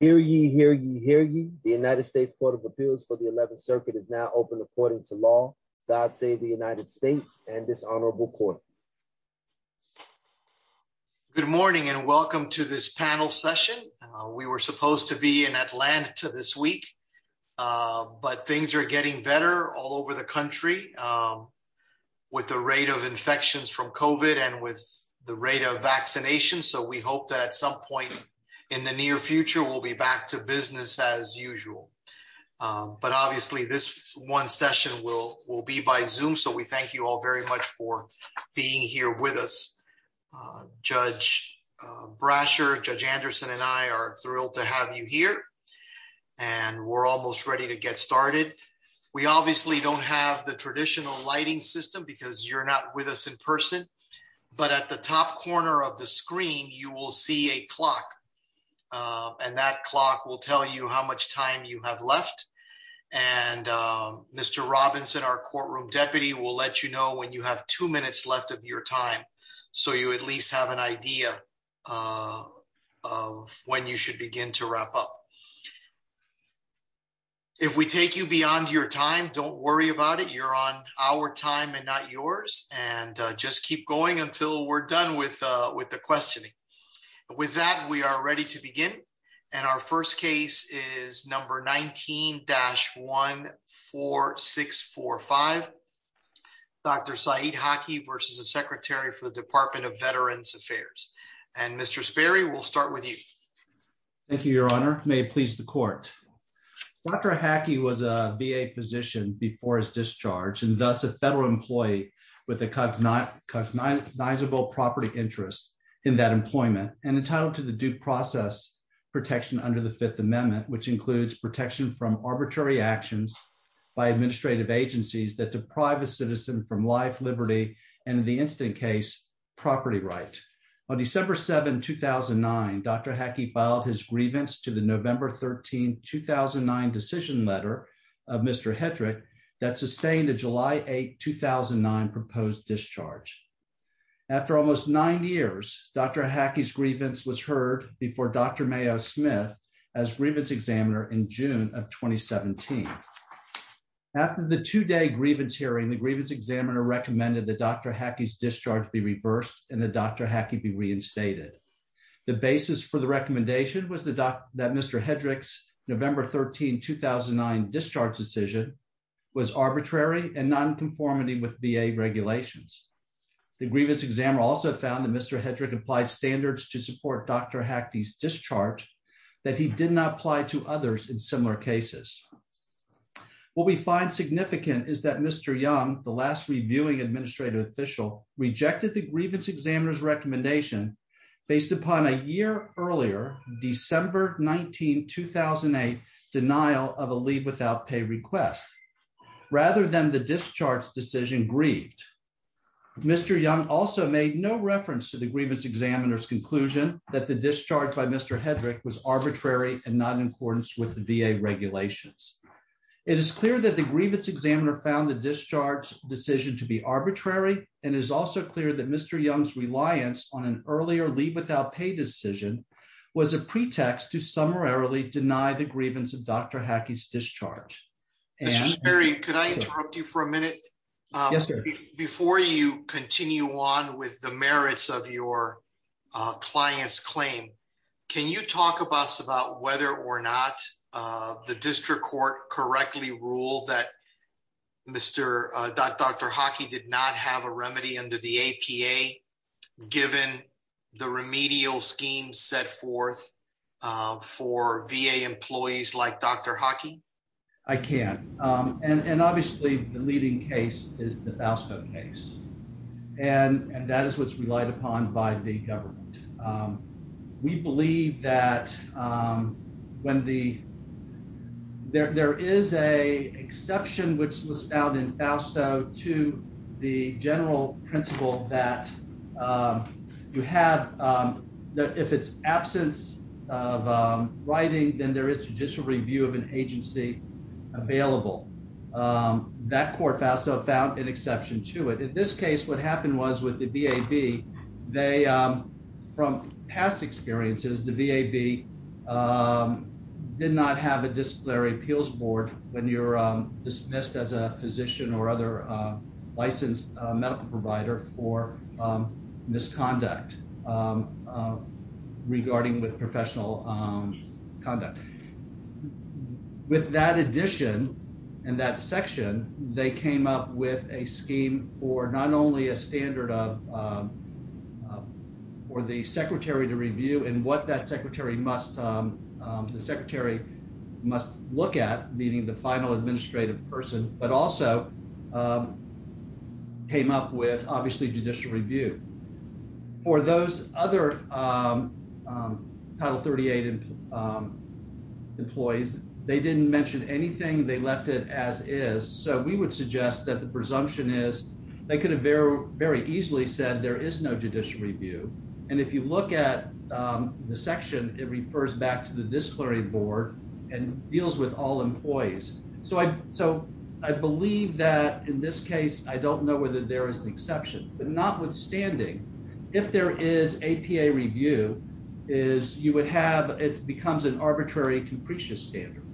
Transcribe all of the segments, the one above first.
Hear ye, hear ye, hear ye. The United States Court of Appeals for the 11th Circuit is now open according to law. God save the United States and this honorable court. Good morning and welcome to this panel session. We were supposed to be in Atlanta this week, but things are getting better all over the country with the rate of infections from COVID and with the rate of vaccination. So we hope that at some point in the near future, we'll be back to business as usual. But obviously this one session will be by Zoom. So we thank you all very much for being here with us. Judge Brasher, Judge Anderson and I are thrilled to have you here and we're almost ready to get started. We obviously don't have the traditional lighting system because you're not with us in person, but at the top corner of the screen, you will see a clock and that clock will tell you how much time you have left. And Mr. Robinson, our courtroom deputy will let you know when you have two minutes left of your time. So you at least have an idea of when you should begin to wrap up. If we take you beyond your time, don't worry about it. You're on our time and not yours and just keep going until we're done with the questioning. With that, we are ready to begin. And our first case is number 19-14645, Dr. Saeed Haki versus the Secretary for the Department of Veterans Affairs. And Mr. Sperry, we'll start with you. Thank you, Your Honor. May it please the court. Dr. Haki was a VA physician before his discharge and thus a federal employee with a customizable property interest in that employment and entitled to the due process protection under the Fifth Amendment, which includes protection from arbitrary actions by administrative agencies that deprive a citizen from life, liberty, and in the instant case, property right. On December 7, 2009, Dr. Haki filed his grievance to the November 13, 2009 decision letter of Mr. Hedrick that sustained a July 8, 2009 proposed discharge. After almost nine years, Dr. Haki's grievance was heard before Dr. Mayo Smith as grievance examiner in June of 2017. After the two-day grievance hearing, the grievance examiner recommended that Dr. Haki's discharge be reversed and that Dr. Haki be reinstated. The basis for the recommendation was that Mr. Hedrick's November 13, 2009 discharge decision was arbitrary and nonconformity with VA regulations. The grievance examiner also found that Mr. Hedrick applied standards to support Dr. Haki's discharge that he did not to others in similar cases. What we find significant is that Mr. Young, the last reviewing administrative official, rejected the grievance examiner's recommendation based upon a year earlier, December 19, 2008, denial of a leave without pay request, rather than the discharge decision grieved. Mr. Young also made no reference to the grievance the VA regulations. It is clear that the grievance examiner found the discharge decision to be arbitrary, and it is also clear that Mr. Young's reliance on an earlier leave without pay decision was a pretext to summarily deny the grievance of Dr. Haki's discharge. Mr. Sperry, could I interrupt you for a minute? Yes, sir. Before you continue on with the merits of your client's claim, can you talk to us about whether or not the district court correctly ruled that Dr. Haki did not have a remedy under the APA, given the remedial scheme set forth for VA employees like Dr. Haki? I can. Obviously, the leading case is the Fausto case, and that is what's relied upon by the government. We believe that there is an exception which was found in Fausto to the general principle that if it's absence of writing, then there is judicial review of an agency available. That court, Fausto, found an exception to it. In this case, what happened was with the VAB, from past experiences, the VAB did not have a disciplinary appeals board when you're dismissed as a physician or other licensed medical provider for misconduct regarding with professional conduct. With that addition and that section, they came up with a scheme for not only a standard of, for the secretary to review and what that secretary must, the secretary must look at, meaning the final administrative person, but also came up with, obviously, judicial review. For those other Title 38 employees, they didn't mention anything. They left it as is. So, we would suggest that the presumption is they could have very easily said there is no judicial review. And if you look at the section, it refers back to the disciplinary board and deals with all employees. So, I believe that in this case, I don't know whether there is an exception, but notwithstanding, if there is APA review, you would have, it becomes an arbitrary and capricious standard.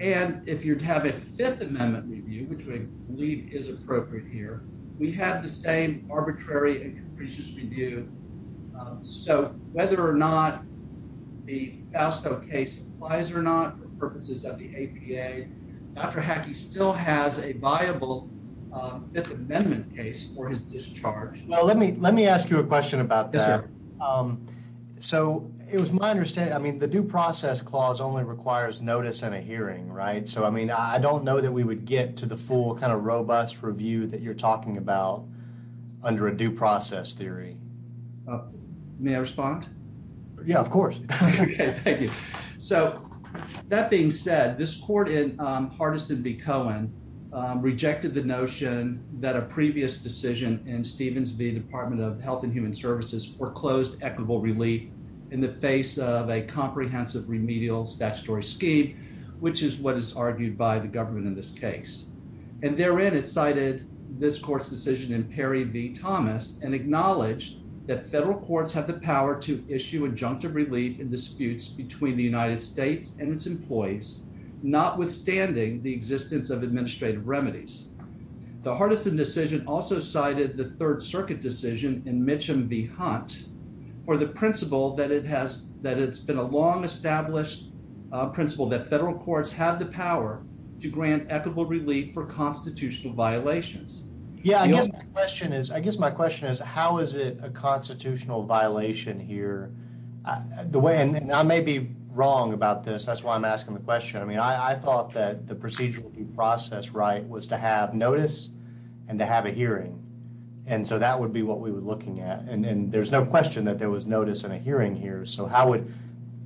And if you'd have a Fifth Amendment review, which I believe is appropriate here, we have the same arbitrary and capricious review. So, whether or not the Fausto case applies or not for purposes of the APA, Dr. Hackey still has a viable Fifth Amendment case for his discharge. Well, let me ask you a question about that. So, it was my understanding, I mean, the due process clause only requires notice and a hearing, right? So, I mean, I don't know that we would get to the full kind of robust review that you're talking about under a due process theory. May I respond? Yeah, of course. Okay, thank you. So, that being said, this court in Hardison v. Cohen rejected the notion that a previous decision in Stevens v. Department of Health and Human Services foreclosed equitable relief in the face of a comprehensive remedial statutory scheme, which is what is argued by the government in this case. And therein, it cited this court's decision in Perry v. Thomas and acknowledged that federal courts have the power to issue injunctive relief in disputes between the United States and its employees, notwithstanding the existence of administrative remedies. The Hardison decision also cited the Third Circuit decision in Mitcham v. Hunt for the principle that it's been a long-established principle that federal courts have the power to grant equitable relief for constitutional violations. Yeah, I guess my question is, how is it a constitutional violation here? And I may be wrong about this. That's why I'm asking the question. I mean, I thought that the procedural due process right was to have notice and to have a hearing. And so, that would be what we were looking at. And there's no question that there was notice and a hearing here. So,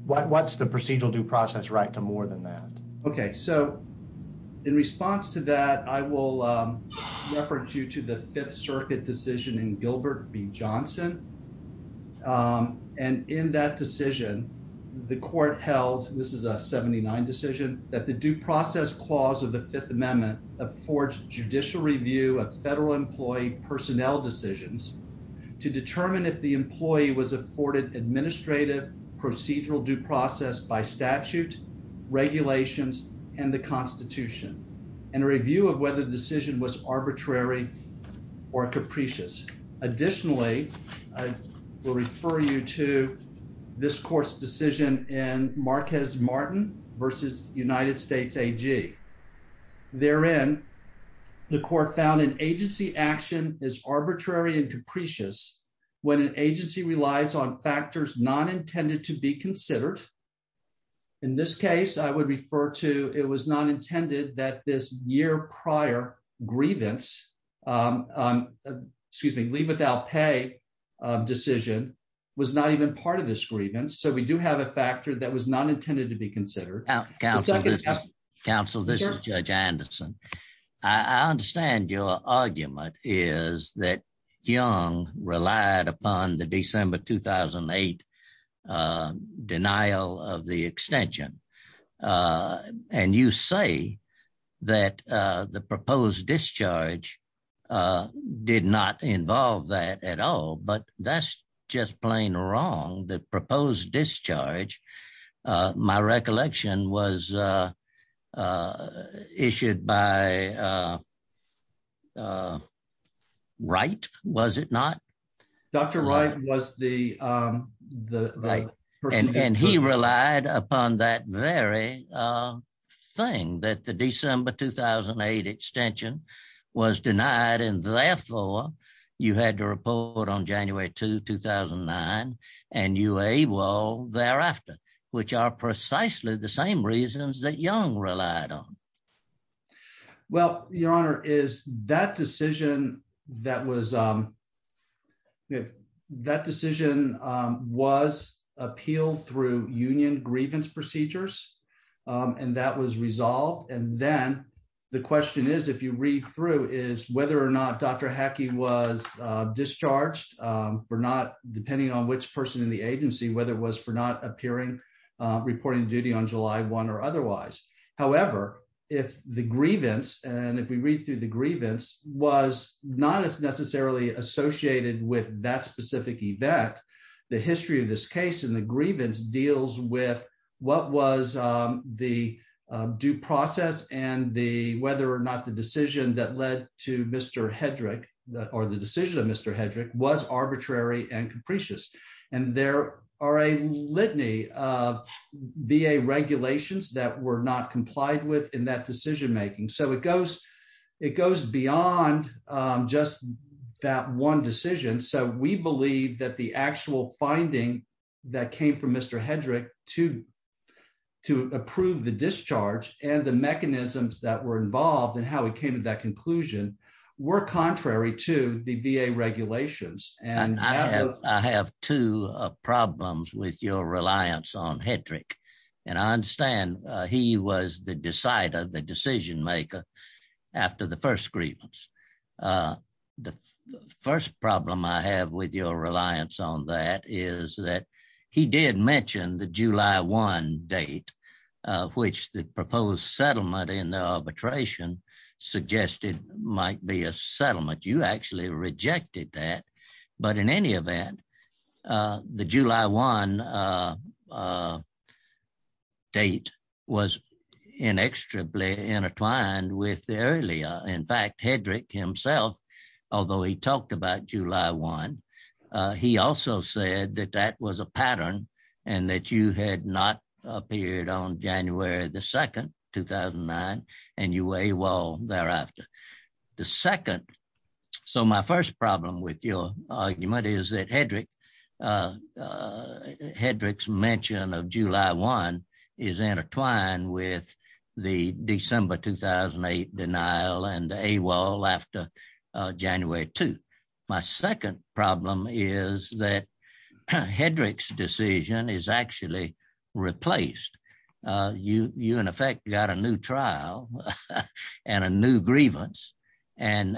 what's the procedural due process right to more than that? Okay, so, in response to that, I will reference you to the Fifth Circuit decision in Gilbert v. Johnson. And in that decision, the court held, this is a 79 decision, that the due process clause of the Fifth Amendment affords judicial review of federal employee personnel decisions to determine if the employee was afforded administrative procedural due process by statute, regulations, and the arbitrary or capricious. Additionally, I will refer you to this court's decision in Marquez Martin v. United States AG. Therein, the court found an agency action is arbitrary and capricious when an agency relies on factors not intended to be considered. In this case, I would refer to, it was not intended that this year prior grievance, excuse me, leave without pay decision was not even part of this grievance. So, we do have a factor that was not intended to be considered. Counsel, this is Judge Anderson. I understand your argument is that relied upon the December 2008 denial of the extension. And you say that the proposed discharge did not involve that at all, but that's just plain wrong. The proposed discharge, my recollection was issued by Wright, was it not? Dr. Wright was the person. And he relied upon that very thing that the December 2008 extension was denied. And therefore, you had to report on January 2, 2009. And you were able thereafter, which are precisely the same reasons that Young relied on. Well, Your Honor, is that decision that was, that decision was appealed through union grievance procedures. And that was resolved. And then the question is, if you read through is whether or not Dr. Hackey was discharged for not depending on which person in the agency, whether it was for not appearing, reporting duty on July 1 or otherwise. However, if the grievance and if we read through the grievance was not as necessarily associated with that specific event, the history of this case and the grievance deals with what was the due process and the whether or not the decision that led to Mr. Hedrick or the decision of Mr. Hedrick was arbitrary and capricious. And there are a litany of VA regulations that were not complied with in that decision making. So it goes, it goes beyond just that one decision. So we believe that the actual finding that came from Mr. Hedrick to approve the discharge and the mechanisms that were involved in how he came to that conclusion were contrary to the VA regulations. And I have two problems with your reliance on Hedrick. And I understand he was the decider, the decision maker after the first grievance. The first problem I have with your reliance on that is that he did mention the July 1 date, which the proposed settlement in the arbitration suggested might be a settlement. You actually rejected that. But in any event, the July 1 date was inextricably intertwined with the earlier. In fact, Hedrick himself, although he talked about July 1, he also said that that was a pattern and that you had not appeared on January the 2nd, 2009, and you were AWOL thereafter. The second, so my first problem with your argument is that Hedrick, Hedrick's mention of July 1 is intertwined with the December 2008 denial and AWOL after January 2. My second problem is that Hedrick's decision is actually replaced. You, in effect, got a new trial and a new grievance, and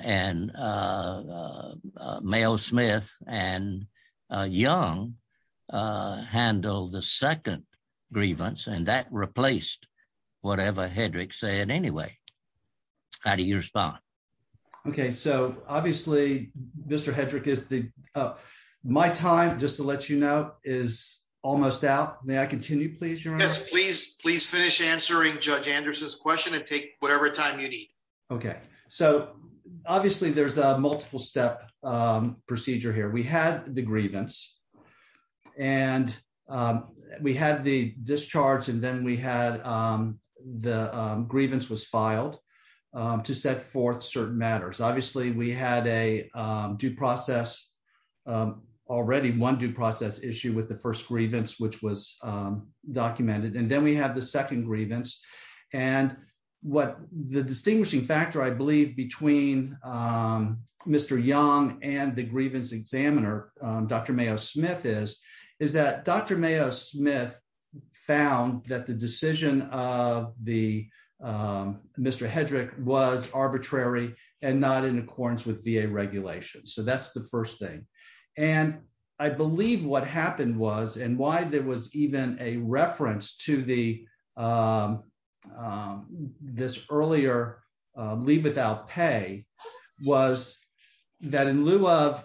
Mayo Smith and Young handled the second grievance, and that replaced whatever Hedrick said anyway. How do you respond? Okay, so obviously, Mr. Hedrick is the, my time, just to let you know, is almost out. May I continue, please, Your Honor? Yes, please. Please finish answering Judge Anderson's question and take whatever time you need. Okay, so obviously, there's a multiple-step procedure here. We had the grievance, and we had the discharge, and then we had the grievance was filed to set forth certain matters. Obviously, we had a due process, already one due process issue with the first grievance, which was documented, and then we had the second grievance, and what the distinguishing factor, I believe, between Mr. Young and the grievance examiner, Dr. Mayo Smith, is that Dr. Mayo Smith found that the decision of the, Mr. Hedrick was arbitrary and not in accordance with VA regulations, so that's the first thing, and I believe what happened was, and why there was even a reference to this earlier leave without pay was that in lieu of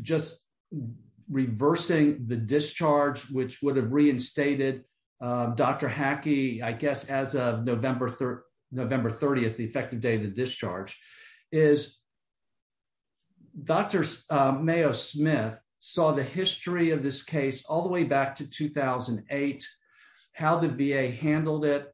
just reversing the discharge, which would have reinstated Dr. Hackey, I guess, as of November 30th, the effective day of the discharge, is Dr. Mayo Smith saw the history of this case all the way back to 2008, how the VA handled it.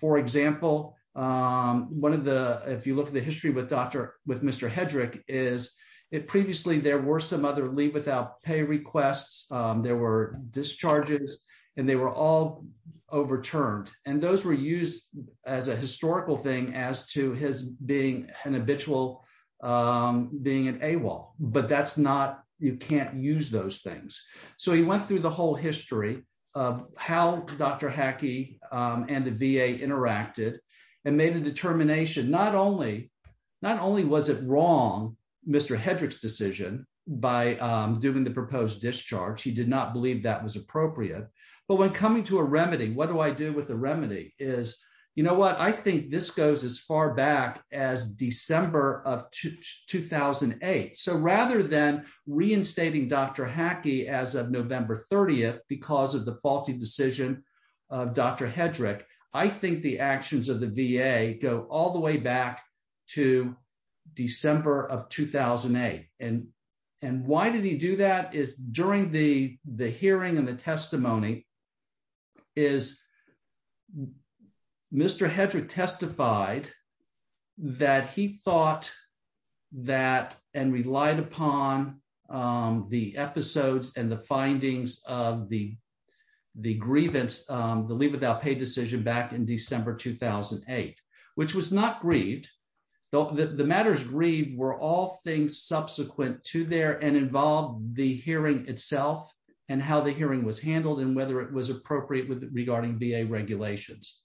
For example, one of the, if you look at the history with Dr., with Mr. Hedrick, is if previously there were some other leave without pay requests, there were discharges, and they were all overturned, and those were used as a historical thing as to his being an habitual, being an AWOL, but that's not, you can't use those things, so he went through the whole history of how Dr. Hackey and the VA interacted and made a determination, not only, not only was it wrong, Mr. Hedrick's decision by doing the proposed discharge, he did not believe that was appropriate, but when coming to a remedy, what do I do with the remedy is, you know what, I think this goes as far back as December of 2008, so rather than reinstating Dr. Hackey as of November 30th because of the faulty decision of Dr. Hedrick, I think the actions of the VA go all the way back to December of 2008, and why did he do that is during the hearing and the testimony is Mr. Hedrick testified that he thought that and relied upon the episodes and the findings of the grievance, the leave without pay decision back in December 2008, which was not grieved, though the matters grieved were all things subsequent to there and involved the hearing itself and how the hearing was handled and whether it was appropriate with regarding VA regulations.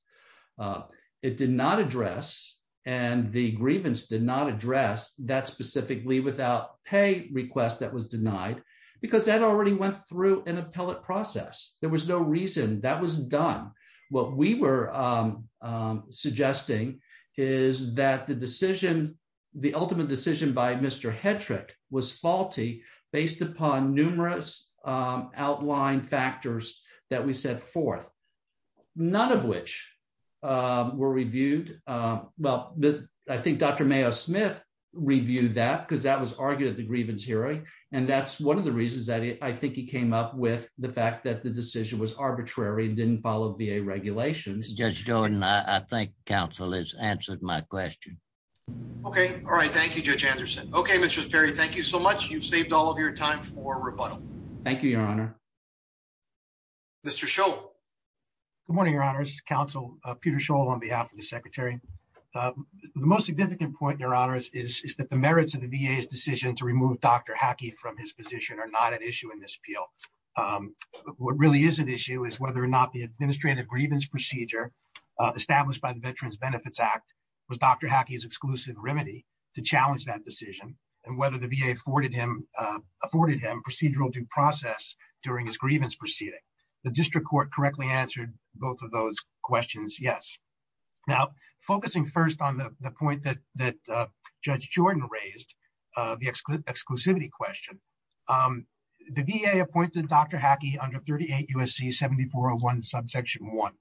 It did not address and the grievance did not address that specifically without pay request that was denied because that already went through an appellate process. There was no reason that was done. What we were suggesting is that the decision, the ultimate decision by Mr. Hedrick was faulty based upon numerous outline factors that we set forth, none of which were reviewed. Well, I think Dr. Mayo Smith reviewed that because that was argued at the grievance hearing, and that's one of the reasons that I think he came up with the fact that the decision was arbitrary and didn't follow VA regulations. Judge Jordan, I think counsel has answered my question. Okay. All right. Thank you, Judge Anderson. Okay, Mr. Sperry, thank you so much. You've saved all of your time for rebuttal. Thank you, Your Honor. Mr. Scholl. Good morning, Your Honors. Counsel Peter Scholl on behalf of the secretary. The most significant point, Your Honors, is that the merits of the VA's decision to remove Dr. Hackey from his position are not an issue in this appeal. What really is an issue is whether or not the administrative grievance procedure established by the Veterans Benefits Act was Dr. Hackey's exclusive remedy to challenge that decision, and whether the VA afforded him procedural due process during his grievance proceeding. The district court correctly answered both of those questions, yes. Now, focusing first on the point that Judge Jordan raised, the exclusivity question, the VA appointed Dr. Hackey under 38 U.S.C. 7401 subsection 1.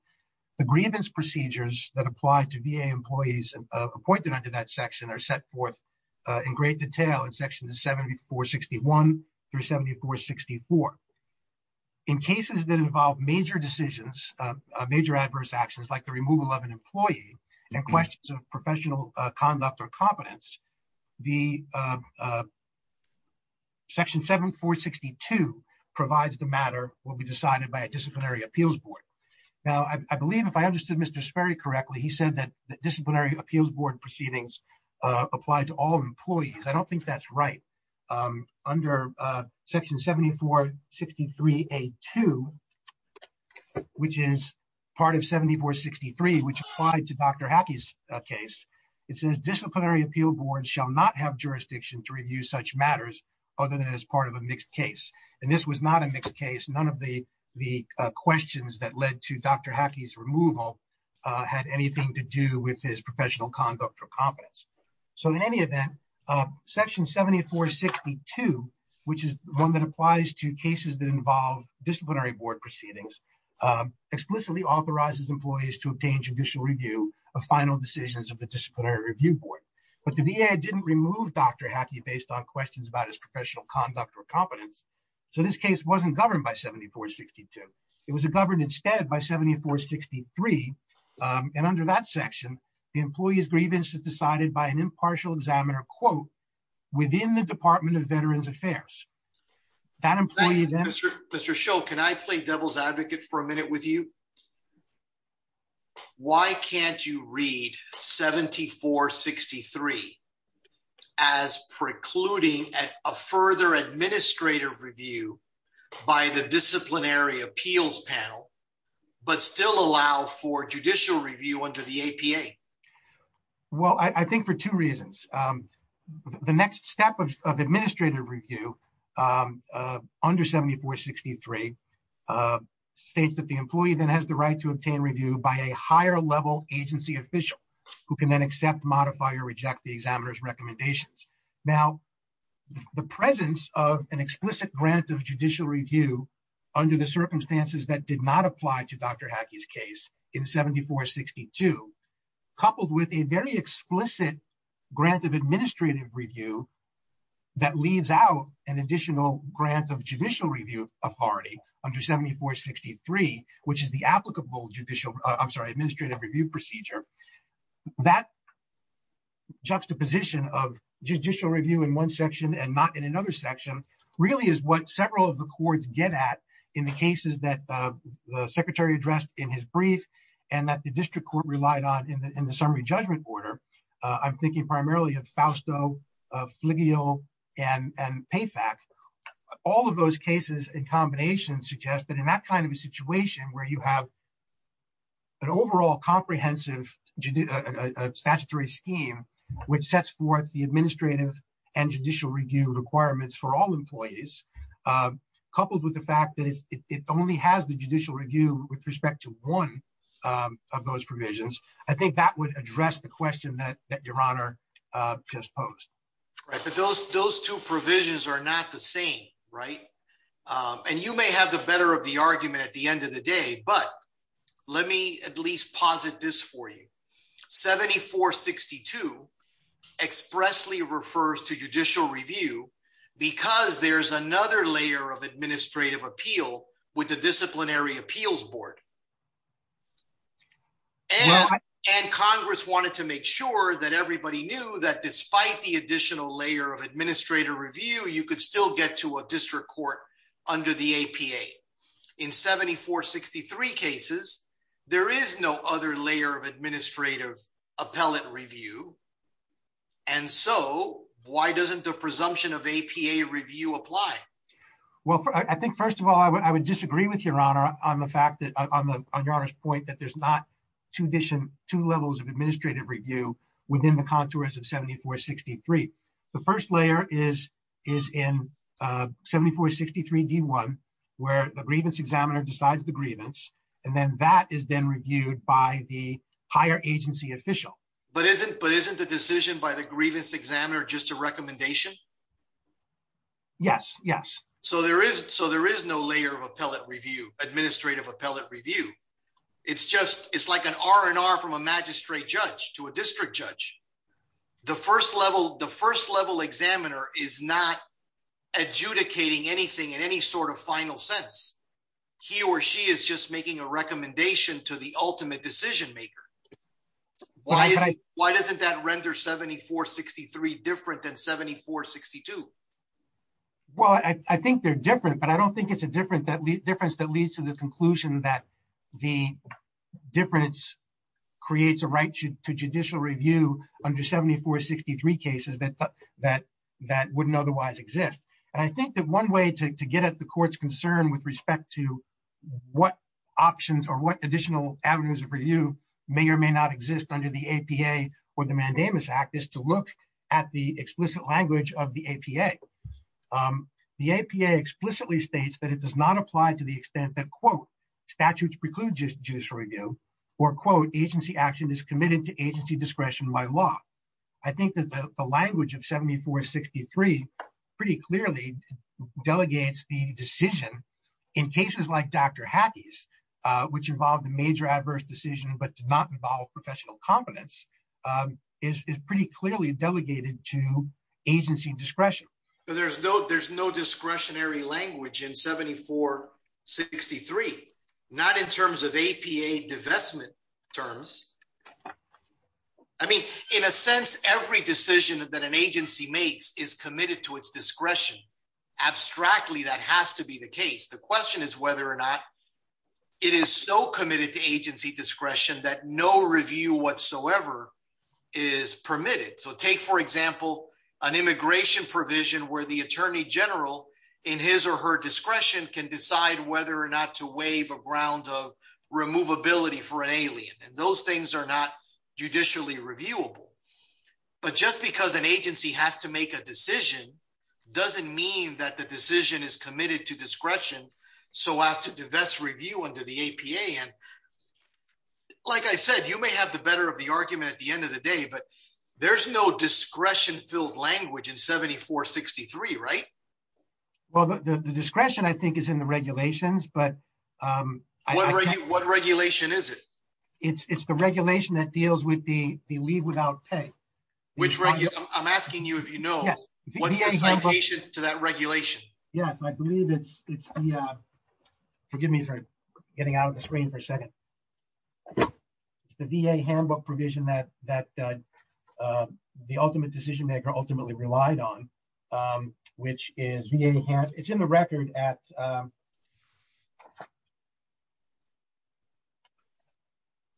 The grievance procedures that apply to VA employees appointed under that section are set forth in great detail in sections 7461 through 7464. In cases that involve major decisions, major adverse actions like the removal of an employee and questions of professional conduct or competence, section 7462 provides the matter will be decided by a disciplinary appeals board. Now, I believe if I understood Mr. Sperry correctly, he said that disciplinary appeals board proceedings apply to all employees. I don't think that's right. Under section 7463A2, which is part of 7463, which applied to Dr. Hackey's case, it says disciplinary appeal boards shall not have jurisdiction to review such matters other than as part of a mixed case. This was not a mixed case. None of the questions that led to Dr. Hackey's removal had anything to do with his professional conduct or competence. In any event, section 7462, which is one that applies to cases that involve disciplinary board proceedings, explicitly authorizes employees to obtain judicial review of final decisions of the disciplinary review board. But the VA didn't remove Dr. Hackey based on questions about his professional conduct or competence. So this case wasn't governed by 7462. It was governed instead by 7463. And under that section, the employee's grievance is decided by an impartial examiner, quote, within the Department of Veterans Affairs. That employee then... Mr. Shull, can I play devil's advocate for a minute with you? Mr. Shull, why can't you read 7463 as precluding a further administrative review by the disciplinary appeals panel, but still allow for judicial review under the APA? Well, I think for two reasons. The next step of administrative review under 7463 states that the employee then has the right to obtain review by a higher level agency official who can then accept, modify, or reject the examiner's recommendations. Now, the presence of an explicit grant of judicial review under the circumstances that did not apply to Dr. Hackey's case in 7462, coupled with a very explicit grant of administrative review that leaves out an under 7463, which is the applicable judicial... I'm sorry, administrative review procedure, that juxtaposition of judicial review in one section and not in another section really is what several of the courts get at in the cases that the secretary addressed in his brief, and that the district court relied on in the summary judgment order. I'm thinking primarily of Fausto, of Fligiel, and Payfax. All of those cases in combination suggest that in that kind of a situation where you have an overall comprehensive statutory scheme which sets forth the administrative and judicial review requirements for all employees, coupled with the fact that it only has the judicial review with respect to one of those provisions, I think that would address the question that your honor just posed. Right, but those two provisions are not the same, right? And you may have the better of the argument at the end of the day, but let me at least posit this for you. 7462 expressly refers to judicial review because there's another layer of administrative appeal with the disciplinary appeals board. And congress wanted to make sure that everybody knew that despite the additional layer of administrative review, you could still get to a district court under the APA. In 7463 cases, there is no other layer of administrative appellate review, and so why doesn't the I think first of all, I would disagree with your honor on the fact that on your honor's point that there's not two levels of administrative review within the contours of 7463. The first layer is in 7463d1, where the grievance examiner decides the grievance, and then that is then reviewed by the higher agency official. But isn't the decision by the grievance examiner just a recommendation? Yes, yes. So there is, so there is no layer of appellate review, administrative appellate review. It's just, it's like an R&R from a magistrate judge to a district judge. The first level, the first level examiner is not adjudicating anything in any sort of final sense. He or she is just making a recommendation to the ultimate decision maker. Why, why doesn't that render 7463 different than 7462? Well, I think they're different, but I don't think it's a difference that leads to the conclusion that the difference creates a right to judicial review under 7463 cases that wouldn't otherwise exist. And I think that one way to get at the court's concern with respect to what options or what additional avenues of review may or may not exist under the APA or the Mandamus Act is to look at the explicit language of the APA. The APA explicitly states that it does not apply to the extent that, quote, statutes preclude judicial review, or quote, agency action is committed to agency discretion by law. I think that the language of 7463 pretty clearly delegates the decision in cases like Dr. Hattie's, which involved a major adverse decision but did not involve professional competence, is pretty clearly delegated to agency discretion. There's no discretionary language in 7463, not in terms of APA divestment terms. I mean, in a sense, every decision that an agency makes is committed to its discretion. Abstractly, that has to be the case. The question is whether or not it is so committed to agency discretion that no review whatsoever is permitted. So take, for example, an immigration provision where the attorney general in his or her discretion can decide whether or not to waive a ground of removability for an alien. And those things are not judicially reviewable. But just because an agency has to make a decision doesn't mean that decision is committed to discretion, so as to divest review under the APA. And like I said, you may have the better of the argument at the end of the day, but there's no discretion-filled language in 7463, right? Well, the discretion, I think, is in the regulations. But what regulation is it? It's the regulation that deals with the leave without pay. Which, I'm asking you if you know, what's the citation to that regulation? Yes, I believe it's the, forgive me for getting out of the screen for a second. It's the VA handbook provision that the ultimate decision maker ultimately relied on, which is VA, it's in the record at,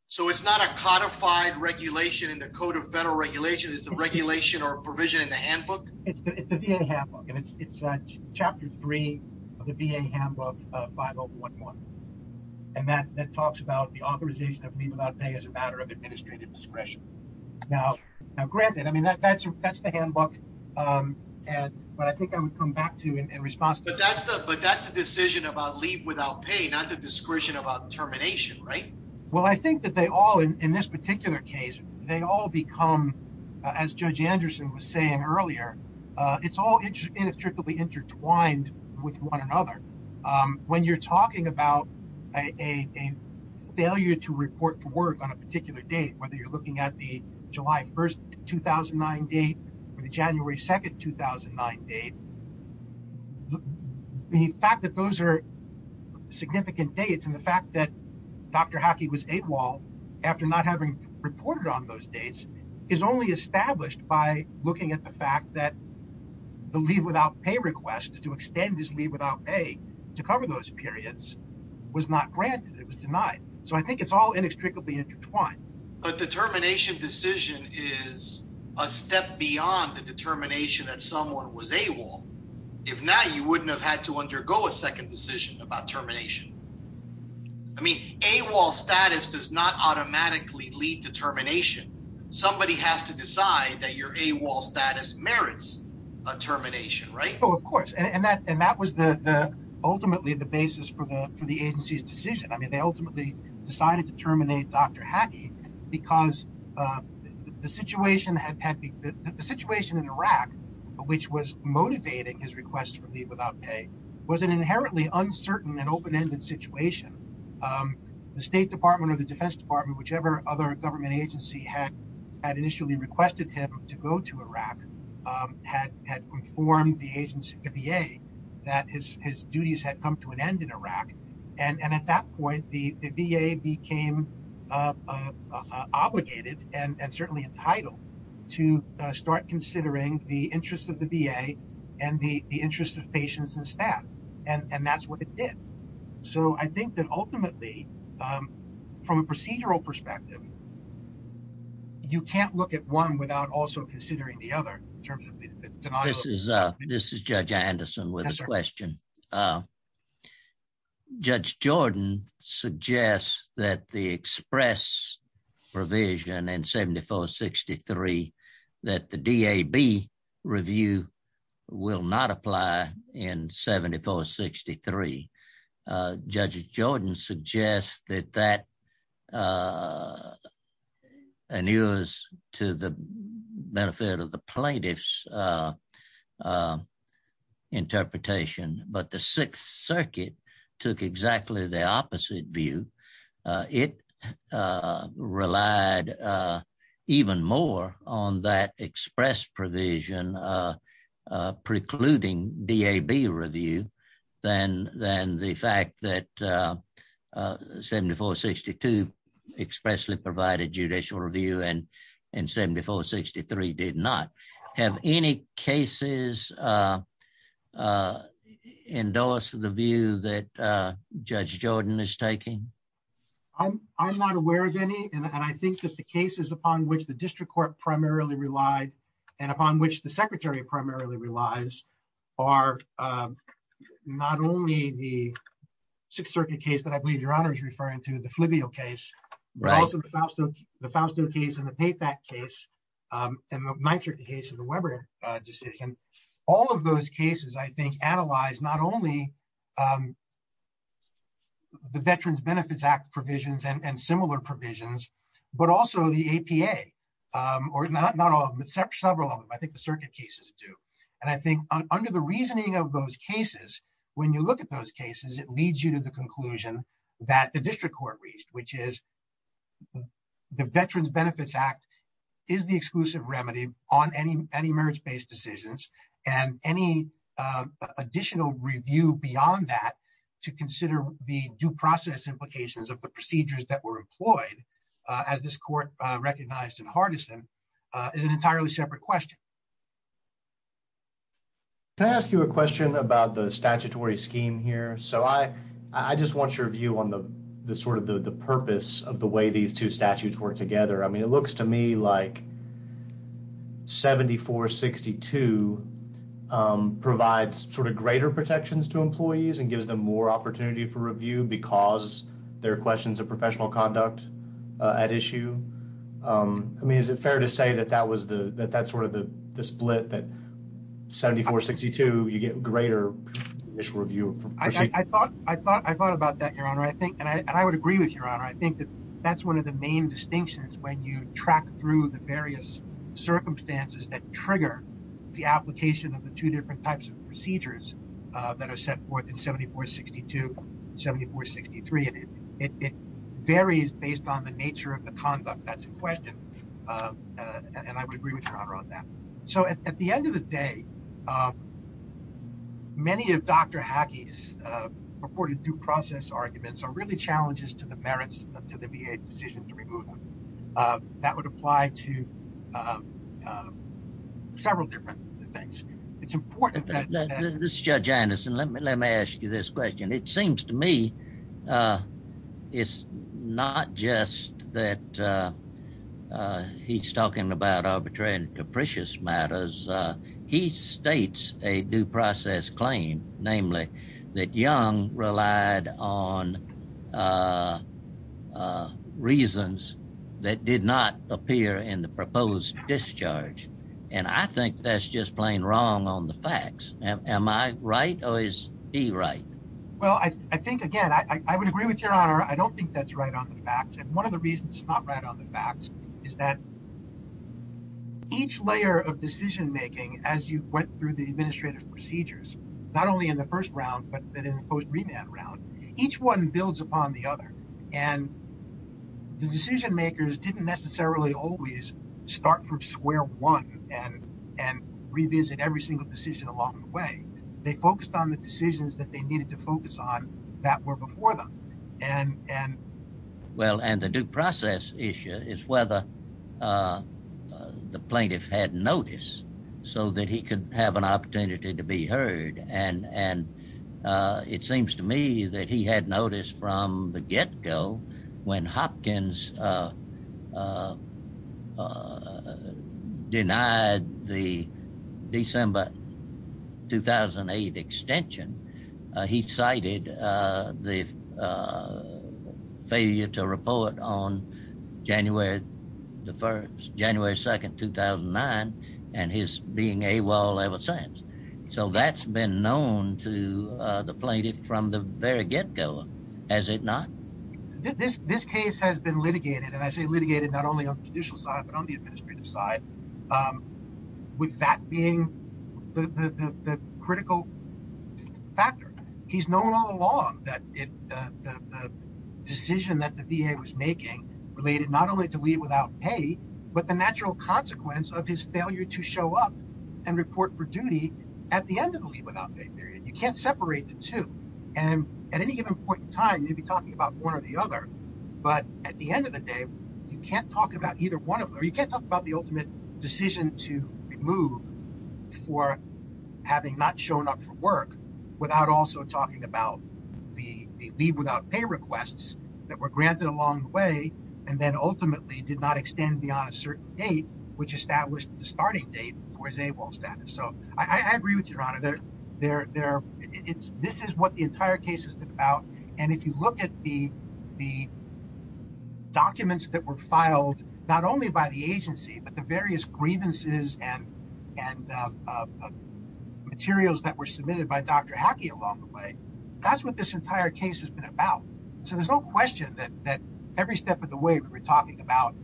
so it's not a codified regulation in the Code of Federal Regulations, it's a regulation or provision in the handbook? It's the VA handbook, and it's chapter three of the VA handbook, 5011, and that talks about the authorization of leave without pay as a matter of administrative discretion. Now, granted, I mean, that's the handbook, but I think I would come back to in about leave without pay, not the discretion about termination, right? Well, I think that they all, in this particular case, they all become, as Judge Anderson was saying earlier, it's all inextricably intertwined with one another. When you're talking about a failure to report to work on a particular date, whether you're looking at the July 1st, 2009 date or the January 2nd, 2009 date, the fact that those are significant dates and the fact that Dr. Hockey was AWOL after not having reported on those dates is only established by looking at the fact that the leave without pay request to extend his leave without pay to cover those periods was not granted, it was denied. So I think it's all inextricably intertwined. But the termination decision is a step beyond the determination that someone was AWOL. If not, you wouldn't have had to undergo a second decision about termination. I mean, AWOL status does not automatically lead to termination. Somebody has to decide that your AWOL status merits a termination, right? Oh, of course. And that was the, ultimately, the basis for the agency's decision. I mean, they ultimately decided to terminate Dr. Hockey because the situation in Iraq, which was motivating his request for leave without pay, was an inherently uncertain and open-ended situation. The State Department or the Defense Department, whichever other government agency had initially requested him to go to Iraq, had informed the agency, the VA, that his duties had come to an end in Iraq. And at that point, the VA became obligated and certainly entitled to start considering the interests of the VA and the interests of patients and staff. And that's what it did. So I think that ultimately, from a procedural perspective, you can't look at one without also considering the other in terms of the denial. This is Judge Anderson with a question. Judge Jordan suggests that the express provision in 7463 that the DAB review will not apply in the future. I guess that that annuals to the benefit of the plaintiff's interpretation. But the Sixth Circuit took exactly the opposite view. It relied even more on that express provision precluding DAB review than the fact that 7462 expressly provided judicial review and 7463 did not. Have any cases endorsed the view that Judge Jordan is taking? I'm not aware of any. And I think that the cases upon which the District Court primarily relied and upon which the Secretary primarily relies are not only the Sixth Circuit case, I believe Your Honor is referring to the Flavio case, but also the Fausto case and the Payback case and the Weber decision. All of those cases, I think, analyze not only the Veterans Benefits Act provisions and similar provisions, but also the APA, or not all of them, but several of them. I think the circuit cases do. And I think under the that the District Court reached, which is the Veterans Benefits Act is the exclusive remedy on any marriage-based decisions. And any additional review beyond that to consider the due process implications of the procedures that were employed, as this court recognized in Hardison, is an entirely separate question. Can I ask you a question about the statutory scheme here? So I just want your view on the sort of the purpose of the way these two statutes work together. I mean, it looks to me like 7462 provides sort of greater protections to employees and gives them more opportunity for review because there are questions of professional conduct at issue. I mean, is it fair to say that that's sort of the split that 7462, you get greater initial review? I thought about that, Your Honor. And I would agree with Your Honor. I think that's one of the main distinctions when you track through the various circumstances that trigger the application of the two different types of procedures that are set forth in 7462 and 7463. And it varies based on the nature of the conduct. That's a question. And I would agree with Your Honor on that. So at the end of the day, many of Dr. Hackey's purported due process arguments are really challenges to the merits of the VA decision to remove them. That would apply to several different things. It's important that... This is Judge Anderson. Let me ask you this that he's talking about arbitrary and capricious matters. He states a due process claim, namely, that Young relied on reasons that did not appear in the proposed discharge. And I think that's just plain wrong on the facts. Am I right? Or is he right? Well, I think, again, I would agree with Your Honor. I don't think that's right on the facts. And one of the reasons it's not right on the facts is that each layer of decision-making, as you went through the administrative procedures, not only in the first round, but in the post-remand round, each one builds upon the other. And the decision-makers didn't necessarily always start from square one and revisit every single decision along the way. They focused on the decisions that they needed to focus on that were before them. Well, and the due process issue is whether the plaintiff had notice so that he could have an opportunity to be heard. And it seems to me that he had notice from the get-go when Hopkins denied the December 2008 extension. He cited the failure to report on January the 1st, January 2nd, 2009, and his being AWOL ever since. So that's been known to the plaintiff from the very get-go, has it not? This case has been litigated, and I say litigated not only on the judicial side, but on the administrative side, with that being the critical factor. He's known all along that the decision that the VA was making related not only to leave without pay, but the natural consequence of his failure to show up and report for duty at the end of the leave-without-pay period. You can't separate the two. And at any given point in time, you'd be talking about one or the other. But at the end of the day, you can't talk about either one of them, or you can't talk about the ultimate decision to remove for having not shown up for work without also talking about the leave-without-pay requests that were granted along the way and then ultimately did not extend beyond a certain date, which established the starting date for his AWOL status. So I agree with you, Your Honor. This is what the entire case is about. And if you look at the documents that were filed not only by the agency, but the various grievances and materials that were submitted by Dr. Hackey along the way, that's what this entire case has been about. So there's no question that every step of the way that we're talking about,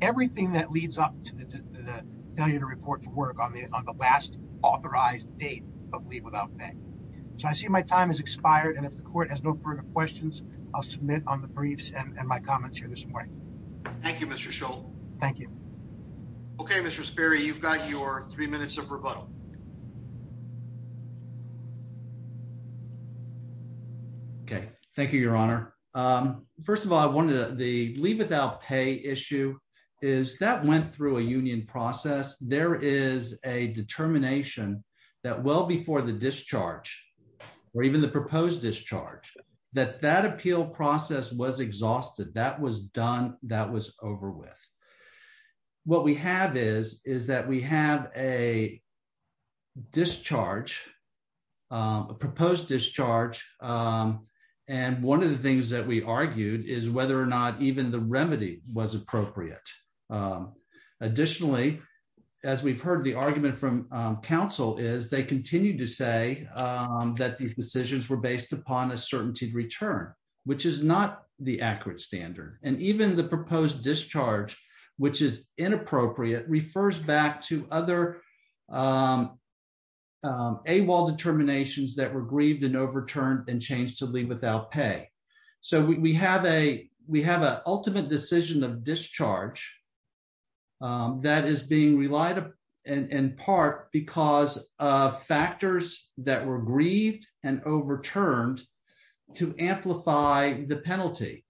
everything that authorized date of leave-without-pay. So I see my time has expired. And if the court has no further questions, I'll submit on the briefs and my comments here this morning. Thank you, Mr. Scholl. Thank you. Okay, Mr. Sperry, you've got your three minutes of rebuttal. Okay, thank you, Your Honor. First of all, I wanted the leave-without-pay issue is that went through a union process, there is a determination that well before the discharge, or even the proposed discharge, that that appeal process was exhausted, that was done, that was over with. What we have is, is that we have a discharge, a proposed discharge. And one of the things that we argued is whether or not even the remedy was appropriate. Additionally, as we've heard the argument from counsel is they continue to say that these decisions were based upon a certainty return, which is not the accurate standard. And even the proposed discharge, which is inappropriate, refers back to other AWOL determinations that were grieved and overturned and changed to leave without pay. So we have a ultimate decision of discharge that is being relied upon, in part because of factors that were grieved and overturned to amplify the penalty.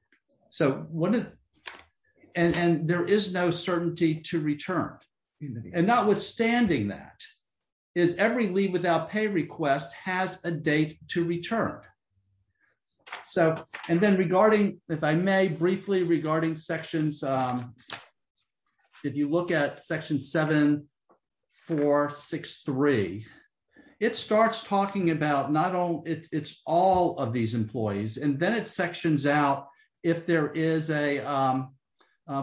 And there is no certainty to return. And notwithstanding that, is every leave without pay request has a date to So, and then regarding, if I may, briefly regarding sections, if you look at section 7463, it starts talking about not all, it's all of these employees, and then it sections out if there is a,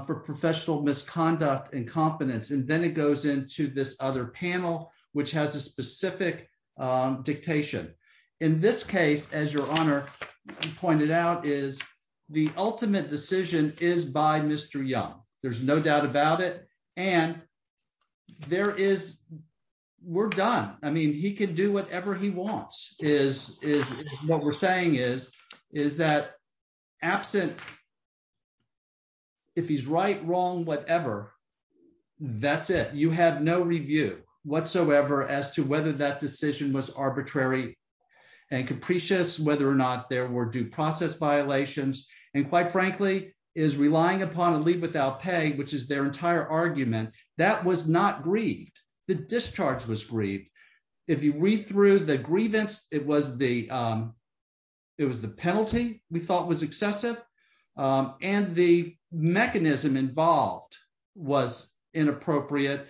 for professional misconduct and confidence, and then it goes into this other panel, which has a specific dictation. In this case, as your honor pointed out, is the ultimate decision is by Mr. Young, there's no doubt about it. And there is, we're done. I mean, he can do whatever he wants is, is what we're saying is, is that absent if he's right, wrong, whatever, that's it, you have no review whatsoever as to whether that decision was arbitrary and capricious, whether or not there were due process violations, and quite frankly, is relying upon a leave without pay, which is their entire argument, that was not grieved, the discharge was grieved. If you read through the grievance, it was the, it was the penalty we thought was excessive. And the mechanism involved was inappropriate.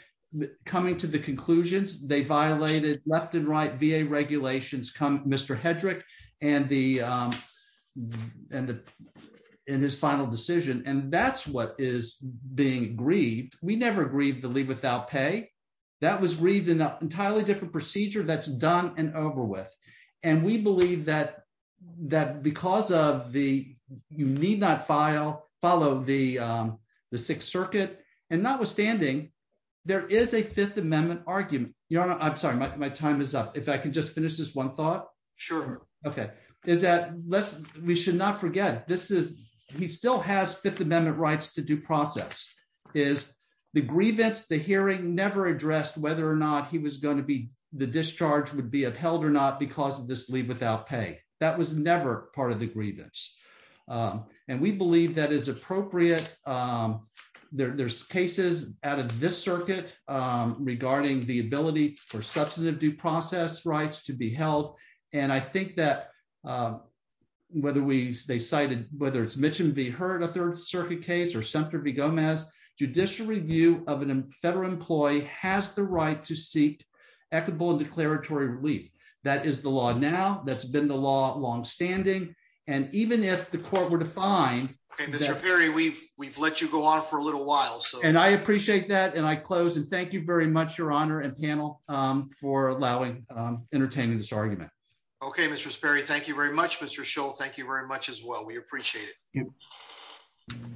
Coming to the conclusions, they violated left and right VA regulations, come Mr. Hedrick, and the, and the, and his final decision. And that's what is being grieved. We never grieved the leave without pay. That was grieved in an entirely different procedure that's done and over with. And we believe that, that because of the, you need not file, follow the Sixth Circuit. And notwithstanding, there is a Fifth Amendment argument, you know, I'm sorry, my time is up. If I can just finish this one thought. Sure. Okay. Is that less, we should not forget this is, he still has Fifth Amendment rights to due the discharge would be upheld or not because of this leave without pay. That was never part of the grievance. And we believe that is appropriate. There's cases out of this circuit regarding the ability for substantive due process rights to be held. And I think that whether we, they cited, whether it's Mitch and V. Hurd, a Third Circuit case or center be Gomez judicial review of an federal employee has the right to seek equitable declaratory relief. That is the law. Now that's been the law longstanding. And even if the court were to find. Okay. Mr. Perry, we've, we've let you go on for a little while. So, and I appreciate that. And I close and thank you very much, your honor and panel for allowing, entertaining this argument. Okay. Mr. Sperry, thank you very much, Mr. Scholl. Thank you very much as well. We appreciate it.